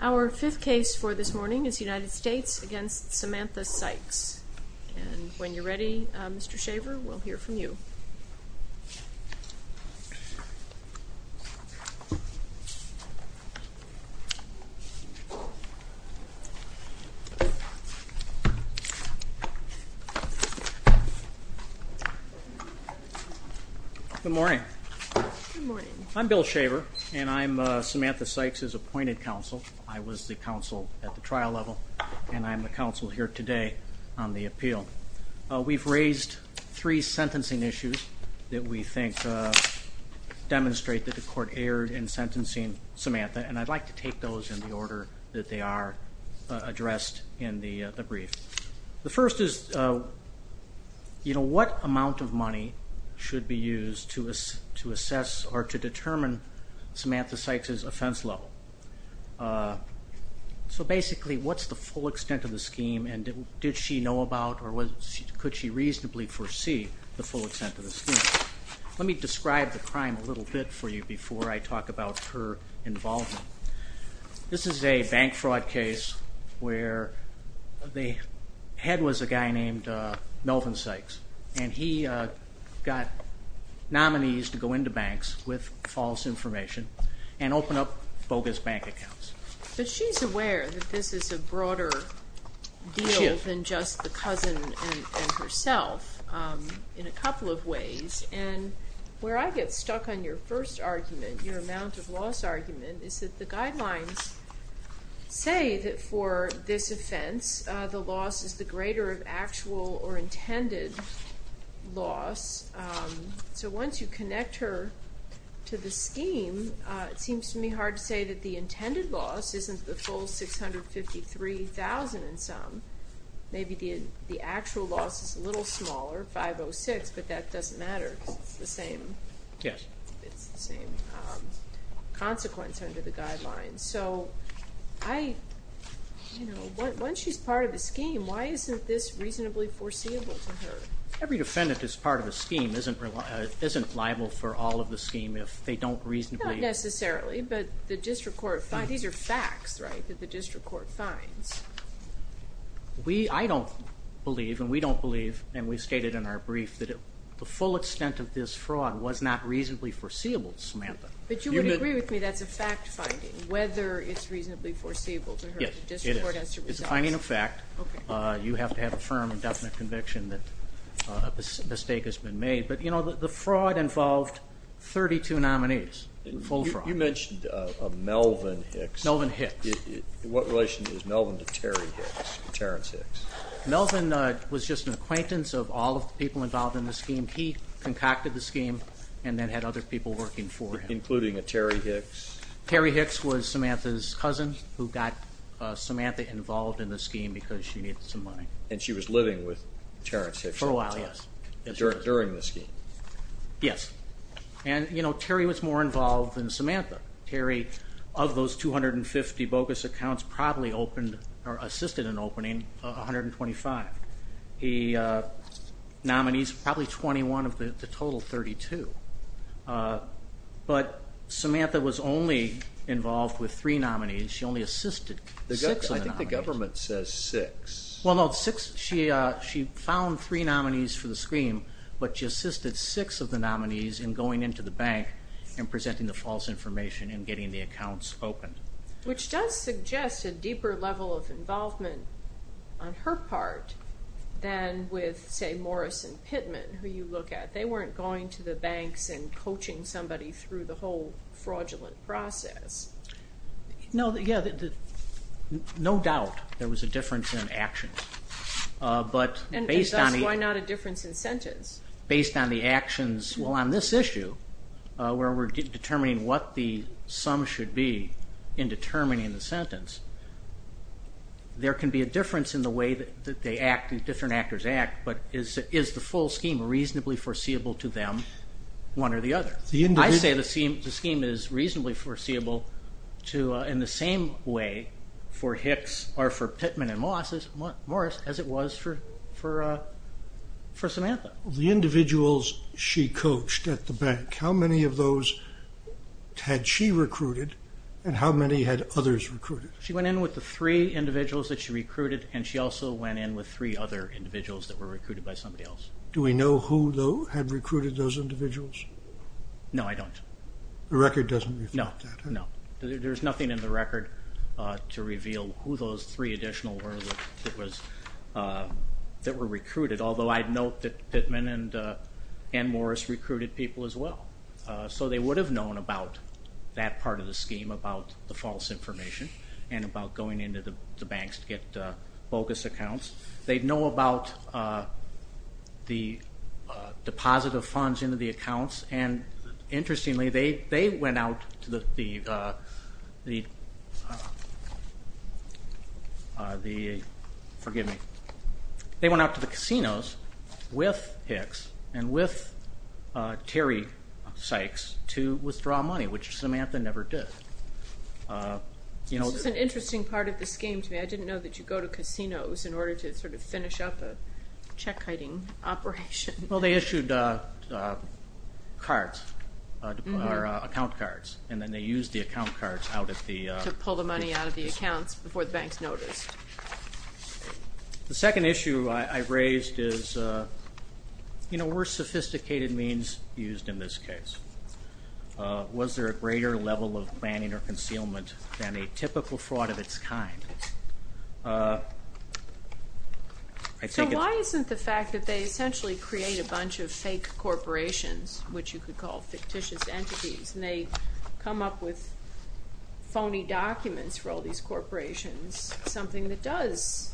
Our fifth case for this morning is United States v. Samantha Sykes. When you're ready, Mr. Shaver, we'll hear from you. Bill Shaver Good morning. I'm Bill Shaver and I'm Samantha Sykes' appointed counsel. I was the counsel at the trial level and I'm the counsel here today on the appeal. We've raised three sentencing issues that we think demonstrate that the court erred in sentencing Samantha, and I'd like to take those in the order that they are addressed in the brief. The first is what amount of money should be used to assess or to determine Samantha Sykes' offense level? So basically, what's the full extent of the scheme and did she know about or could she reasonably foresee the full extent of the scheme? Let me describe the crime a little bit for you before I talk about her involvement. This is a bank fraud case where the head was a guy named Melvin Sykes, and he got nominees to go into banks with false information and open up bogus bank accounts. But she's aware that this is a broader deal than just the cousin and herself in a couple of ways, and where I get stuck on your first argument, your amount of loss argument, is that the guidelines say that for this offense the loss is the greater of actual or intended loss. So once you connect her to the scheme, it seems to me hard to say that the intended loss isn't the full $653,000 in sum. Maybe the actual loss is a little smaller, $506,000, but that doesn't matter because it's the same consequence under the guidelines. So once she's part of the scheme, why isn't this reasonably foreseeable to her? Every defendant that's part of a scheme isn't liable for all of the scheme if they don't reasonably- Not necessarily, but the district court finds. These are facts, right, that the district court finds. I don't believe, and we don't believe, and we stated in our brief that the full extent of this fraud was not reasonably foreseeable, Samantha. But you would agree with me that's a fact-finding, whether it's reasonably foreseeable to her. Yes, it is. It's a finding of fact. You have to have a firm and definite conviction that a mistake has been made. But the fraud involved 32 nominees, full fraud. You mentioned a Melvin Hicks. Melvin Hicks. What relation is Melvin to Terry Hicks, Terrence Hicks? Melvin was just an acquaintance of all of the people involved in the scheme. He concocted the scheme and then had other people working for him. Including a Terry Hicks? Terry Hicks was Samantha's cousin who got Samantha involved in the scheme because she needed some money. And she was living with Terrence Hicks? For a while, yes. During the scheme? Yes. And, you know, Terry was more involved than Samantha. Terry, of those 250 bogus accounts, probably assisted in opening 125. He nominees probably 21 of the total 32. But Samantha was only involved with three nominees. She only assisted six of the nominees. I think the government says six. Well, no. She found three nominees for the scheme, but she assisted six of the nominees in going into the bank and presenting the false information and getting the accounts opened. Which does suggest a deeper level of involvement on her part than with, say, Morris and Pittman, who you look at. They weren't going to the banks and coaching somebody through the whole fraudulent process. No, yeah. No doubt there was a difference in actions. And thus, why not a difference in sentence? Based on the actions. Well, on this issue, where we're determining what the sum should be in determining the sentence, there can be a difference in the way that they act and different actors act, but is the full scheme reasonably foreseeable to them, one or the other? I say the scheme is reasonably foreseeable in the same way for Hicks or for Pittman and Morris as it was for Samantha. The individuals she coached at the bank, how many of those had she recruited and how many had others recruited? She went in with the three individuals that she recruited, and she also went in with three other individuals that were recruited by somebody else. Do we know who, though, had recruited those individuals? No, I don't. The record doesn't reflect that? No, no. There's nothing in the record to reveal who those three additional were that were recruited, although I'd note that Pittman and Morris recruited people as well. So they would have known about that part of the scheme, about the false information and about going into the banks to get bogus accounts. They'd know about the deposit of funds into the accounts, and interestingly they went out to the casinos with Hicks and with Terry Sykes to withdraw money, which Samantha never did. This is an interesting part of the scheme to me. I didn't know that you go to casinos in order to sort of finish up a check-hiding operation. Well, they issued cards, account cards, and then they used the account cards out at the- To pull the money out of the accounts before the banks noticed. The second issue I raised is, were sophisticated means used in this case? Was there a greater level of planning or concealment than a typical fraud of its kind? So why isn't the fact that they essentially create a bunch of fake corporations, which you could call fictitious entities, and they come up with phony documents for all these corporations, something that does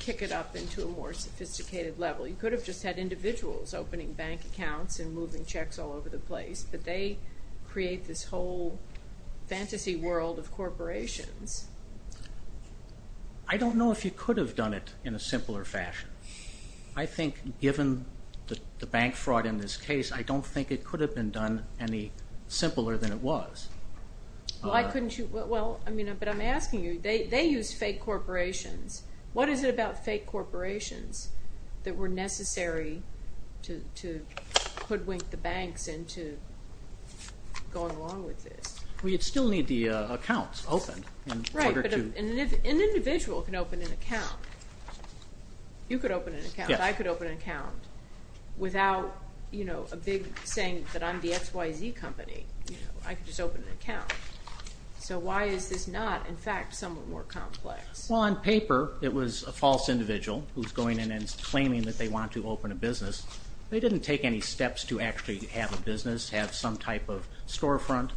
kick it up into a more sophisticated level? You could have just had individuals opening bank accounts and moving checks all over the place, but they create this whole fantasy world of corporations. I don't know if you could have done it in a simpler fashion. I think given the bank fraud in this case, I don't think it could have been done any simpler than it was. Why couldn't you? Well, I mean, but I'm asking you, they used fake corporations. What is it about fake corporations that were necessary to hoodwink the banks into going along with this? Well, you'd still need the accounts opened in order to- Right, but an individual can open an account. You could open an account. Yes. I could open an account without a big saying that I'm the XYZ company. I could just open an account. So why is this not, in fact, somewhat more complex? Well, on paper, it was a false individual who's going in and claiming that they want to open a business. They didn't take any steps to actually have a business, have some type of storefront,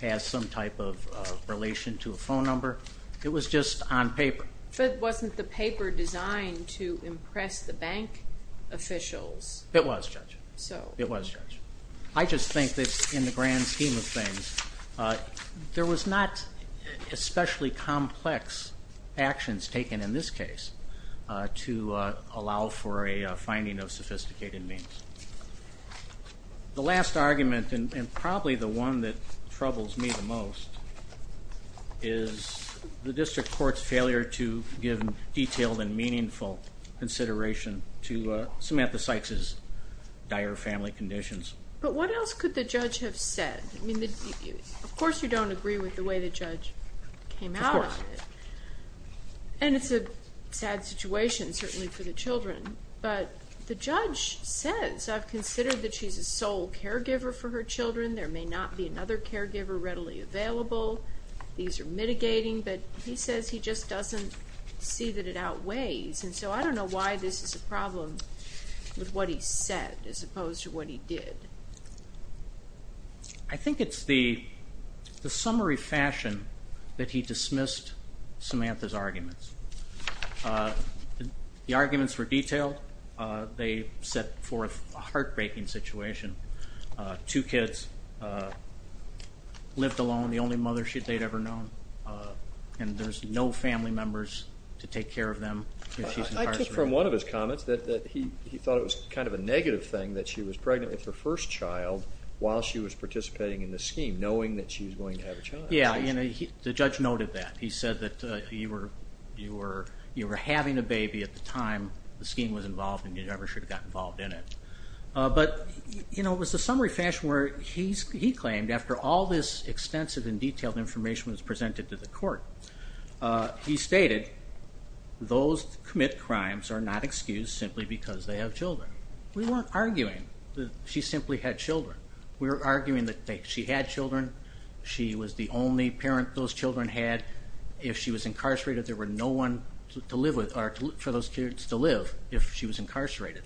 have some type of relation to a phone number. It was just on paper. But wasn't the paper designed to impress the bank officials? It was, Judge. So- It was, Judge. I just think that in the grand scheme of things, there was not especially complex actions taken in this case to allow for a finding of sophisticated means. The last argument, and probably the one that troubles me the most, is the district court's failure to give detailed and meaningful consideration to Samantha Sykes' dire family conditions. But what else could the judge have said? I mean, of course you don't agree with the way the judge came out of it. Of course. And it's a sad situation, certainly for the children. But the judge says, I've considered that she's a sole caregiver for her children. There may not be another caregiver readily available. These are mitigating. But he says he just doesn't see that it outweighs. And so I don't know why this is a problem with what he said as opposed to what he did. I think it's the summary fashion that he dismissed Samantha's arguments. The arguments were detailed. They set forth a heartbreaking situation. Two kids lived alone, the only mother they'd ever known. And there's no family members to take care of them if she's incarcerated. I took from one of his comments that he thought it was kind of a negative thing that she was pregnant with her first child while she was participating in the scheme, knowing that she was going to have a child. Yeah. The judge noted that. He said that you were having a baby at the time the scheme was involved and you never should have gotten involved in it. But it was the summary fashion where he claimed, after all this extensive and detailed information was presented to the court, he stated those that commit crimes are not excused simply because they have children. We weren't arguing that she simply had children. We were arguing that she had children. She was the only parent those children had. If she was incarcerated, there were no one to live with or for those kids to live if she was incarcerated.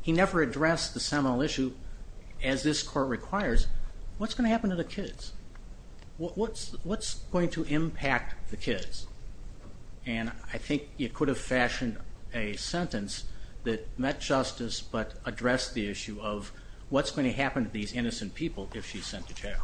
He never addressed the seminal issue as this court requires. What's going to happen to the kids? What's going to impact the kids? And I think it could have fashioned a sentence that met justice but addressed the issue of what's going to happen to these innocent people if she's sent to jail.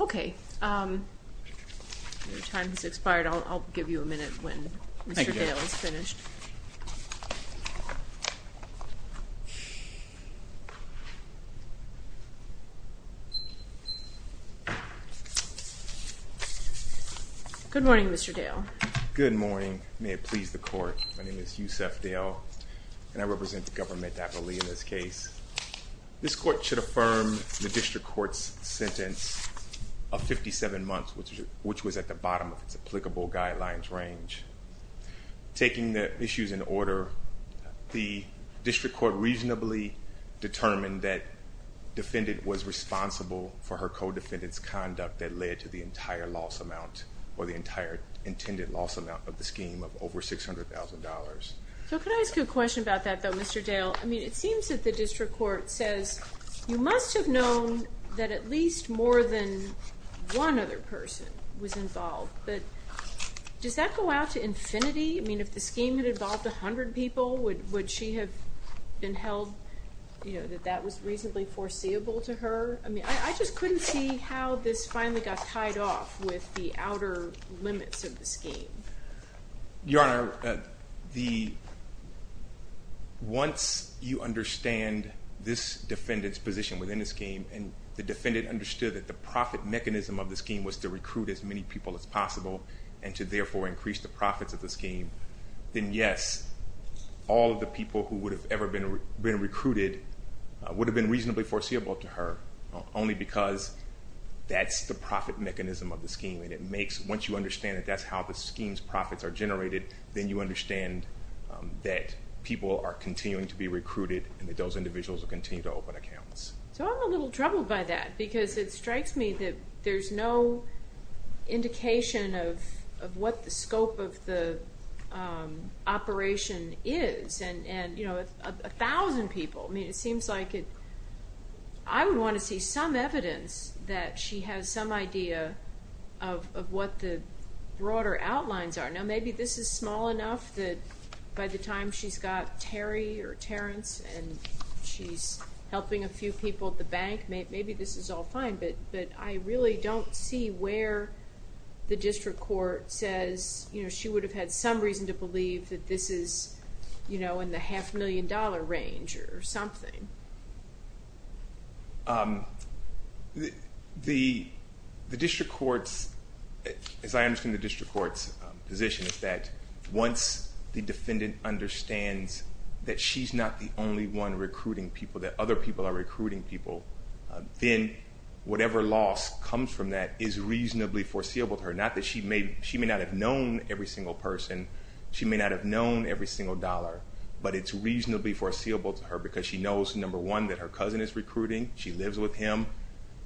Okay. Your time has expired. I'll give you a minute when Mr. Dale is finished. Good morning, Mr. Dale. Good morning. May it please the court. My name is Yusef Dale, and I represent the government aptly in this case. This court should affirm the district court's sentence of 57 months, which was at the bottom of its applicable guidelines range. Taking the issues in order, the district court reasonably determined that defendant was responsible for her co-defendant's conduct that led to the entire loss amount of the scheme of over $600,000. So could I ask you a question about that, though, Mr. Dale? I mean, it seems that the district court says you must have known that at least more than one other person was involved, but does that go out to infinity? I mean, if the scheme had involved 100 people, would she have been held, you know, that that was reasonably foreseeable to her? I mean, I just couldn't see how this finally got tied off with the outer limits of the scheme. Your Honor, once you understand this defendant's position within the scheme and the defendant understood that the profit mechanism of the scheme was to recruit as many people as possible and to therefore increase the profits of the scheme, then, yes, all of the people who would have ever been recruited would have been reasonably foreseeable to her, only because that's the profit mechanism of the scheme. And it makes, once you understand that that's how the scheme's profits are generated, then you understand that people are continuing to be recruited and that those individuals will continue to open accounts. So I'm a little troubled by that because it strikes me that there's no indication of what the scope of the operation is and, you know, 1,000 people. I mean, it seems like I would want to see some evidence that she has some idea of what the broader outlines are. Now, maybe this is small enough that by the time she's got Terry or Terrence and she's helping a few people at the bank, maybe this is all fine, but I really don't see where the district court says, you know, she would have had some reason to believe that this is, you know, in the half-million-dollar range or something. The district court's, as I understand the district court's position, is that once the defendant understands that she's not the only one recruiting people, that other people are recruiting people, then whatever loss comes from that is reasonably foreseeable to her. Not that she may not have known every single person. She may not have known every single dollar, but it's reasonably foreseeable to her because she knows, number one, that her cousin is recruiting. She lives with him.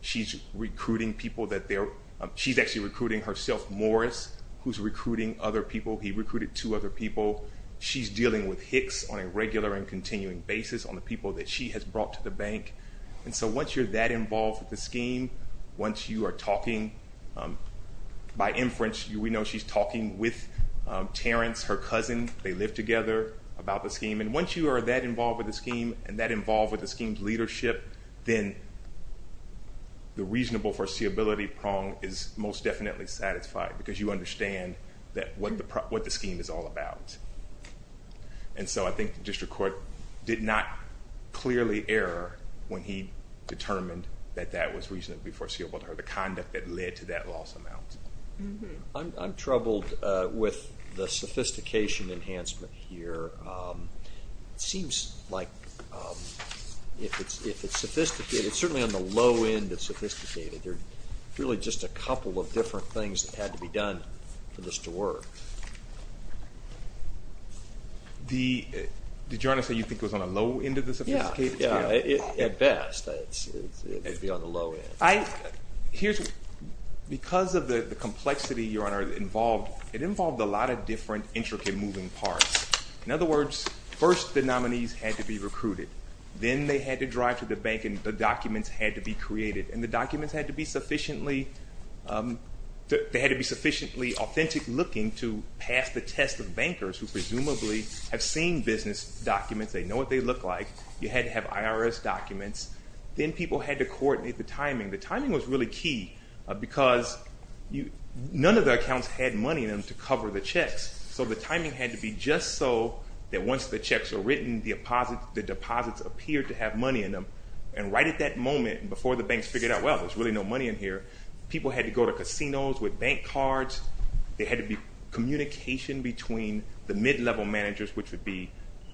She's recruiting people that they're – she's actually recruiting herself, Morris, who's recruiting other people. He recruited two other people. She's dealing with Hicks on a regular and continuing basis on the people that she has brought to the bank. And so once you're that involved with the scheme, once you are talking – by inference, we know she's talking with Terrence, her cousin. They live together about the scheme. And once you are that involved with the scheme and that involved with the scheme's leadership, then the reasonable foreseeability prong is most definitely satisfied because you understand what the scheme is all about. And so I think the district court did not clearly err when he determined that that was reasonably foreseeable to her, the conduct that led to that loss amount. I'm troubled with the sophistication enhancement here. It seems like if it's sophisticated – it's certainly on the low end of sophisticated. There are really just a couple of different things that had to be done for this to work. Did you want to say you think it was on the low end of the sophisticated scheme? Yeah, yeah, at best. It would be on the low end. Here's – because of the complexity, Your Honor, involved – it involved a lot of different intricate moving parts. In other words, first the nominees had to be recruited. Then they had to drive to the bank and the documents had to be created. And the documents had to be sufficiently – they had to be sufficiently authentic looking to pass the test of bankers who presumably have seen business documents. They know what they look like. You had to have IRS documents. Then people had to coordinate the timing. The timing was really key because none of the accounts had money in them to cover the checks. So the timing had to be just so that once the checks were written, the deposits appeared to have money in them. And right at that moment, before the banks figured out, well, there's really no money in here, people had to go to casinos with bank cards. There had to be communication between the mid-level managers, which would be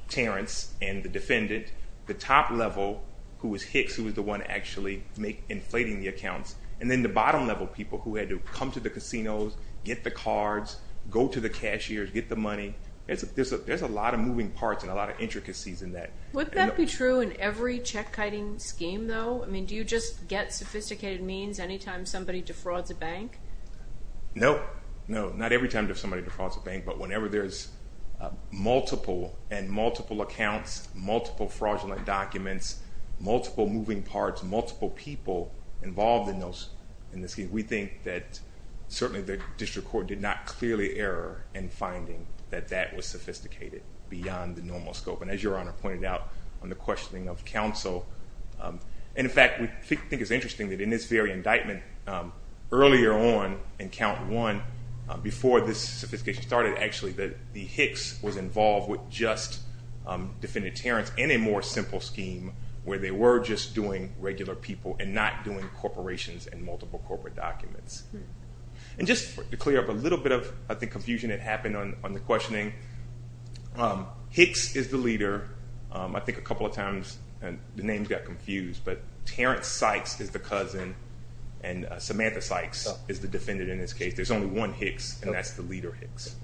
Terrence and the defendant, the top level, who was Hicks, who was the one actually inflating the accounts, and then the bottom level people who had to come to the casinos, get the cards, go to the cashiers, get the money. There's a lot of moving parts and a lot of intricacies in that. Would that be true in every check-kiting scheme, though? I mean, do you just get sophisticated means any time somebody defrauds a bank? No. No, not every time somebody defrauds a bank, but whenever there's multiple and multiple accounts, multiple fraudulent documents, multiple moving parts, multiple people involved in the scheme, we think that certainly the district court did not clearly err in finding that that was sophisticated beyond the normal scope. And as Your Honor pointed out on the questioning of counsel, and in fact we think it's interesting that in this very indictment, earlier on in count one, before this sophistication started, actually, that the Hicks was involved with just defendant Terrence in a more simple scheme where they were just doing regular people and not doing corporations and multiple corporate documents. And just to clear up a little bit of, I think, confusion that happened on the questioning, Hicks is the leader. I think a couple of times the names got confused, but Terrence Sykes is the cousin, and Samantha Sykes is the defendant in this case. There's only one Hicks, and that's the leader Hicks.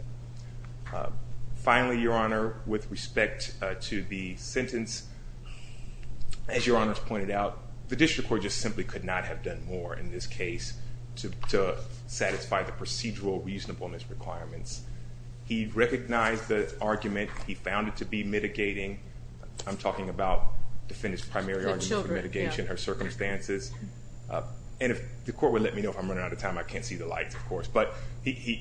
Finally, Your Honor, with respect to the sentence, as Your Honor's pointed out, the district court just simply could not have done more in this case to satisfy the procedural reasonableness requirements. He recognized the argument. He found it to be mitigating. I'm talking about defendant's primary argument for mitigation, her circumstances. And if the court would let me know if I'm running out of time, I can't see the lights, of course.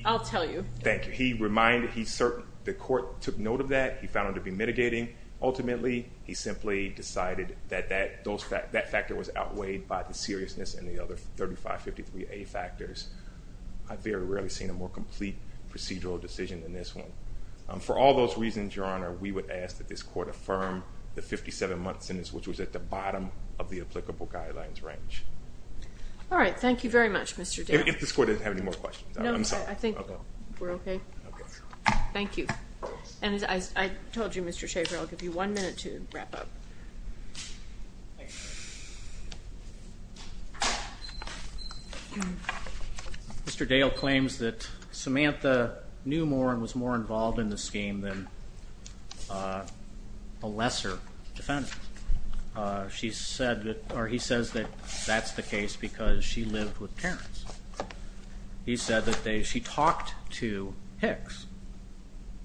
I'll tell you. Thank you. He reminded, the court took note of that. He found it to be mitigating. Ultimately, he simply decided that that factor was outweighed by the seriousness and the other 3553A factors. I've very rarely seen a more complete procedural decision than this one. For all those reasons, Your Honor, we would ask that this court affirm the 57-month sentence, which was at the bottom of the applicable guidelines range. All right. Thank you very much, Mr. Dan. If this court doesn't have any more questions, I'm sorry. No, I think we're okay. Thank you. And as I told you, Mr. Schaffer, I'll give you one minute to wrap up. Mr. Dale claims that Samantha knew more and was more involved in the scheme than a lesser defendant. She said that, or he says that that's the case because she lived with Terrence. He said that she talked to Hicks.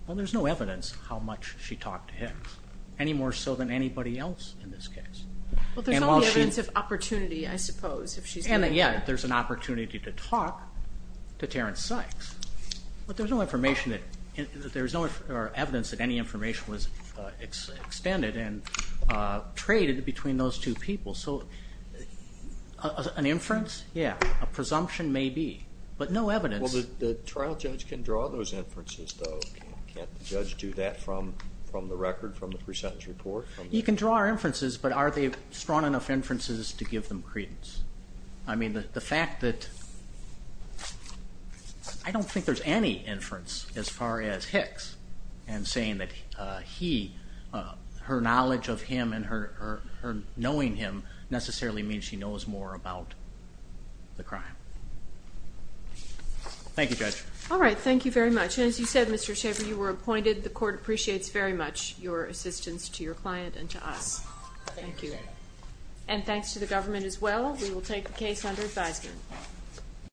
Well, there's no evidence how much she talked to Hicks, any more so than anybody else in this case. Well, there's only evidence of opportunity, I suppose. And, yeah, there's an opportunity to talk to Terrence Sykes, but there's no evidence that any information was extended and traded between those two people. So an inference? Yeah, a presumption may be, but no evidence. Well, the trial judge can draw those inferences, though. Can't the judge do that from the record, from the pre-sentence report? He can draw our inferences, but are they strong enough inferences to give them credence? I mean, the fact that I don't think there's any inference as far as Hicks and saying that her knowledge of him and her knowing him necessarily means she knows more about the crime. Thank you, Judge. All right, thank you very much. And as you said, Mr. Schaffer, you were appointed. The court appreciates very much your assistance to your client and to us. Thank you. And thanks to the government as well. We will take the case under advisement.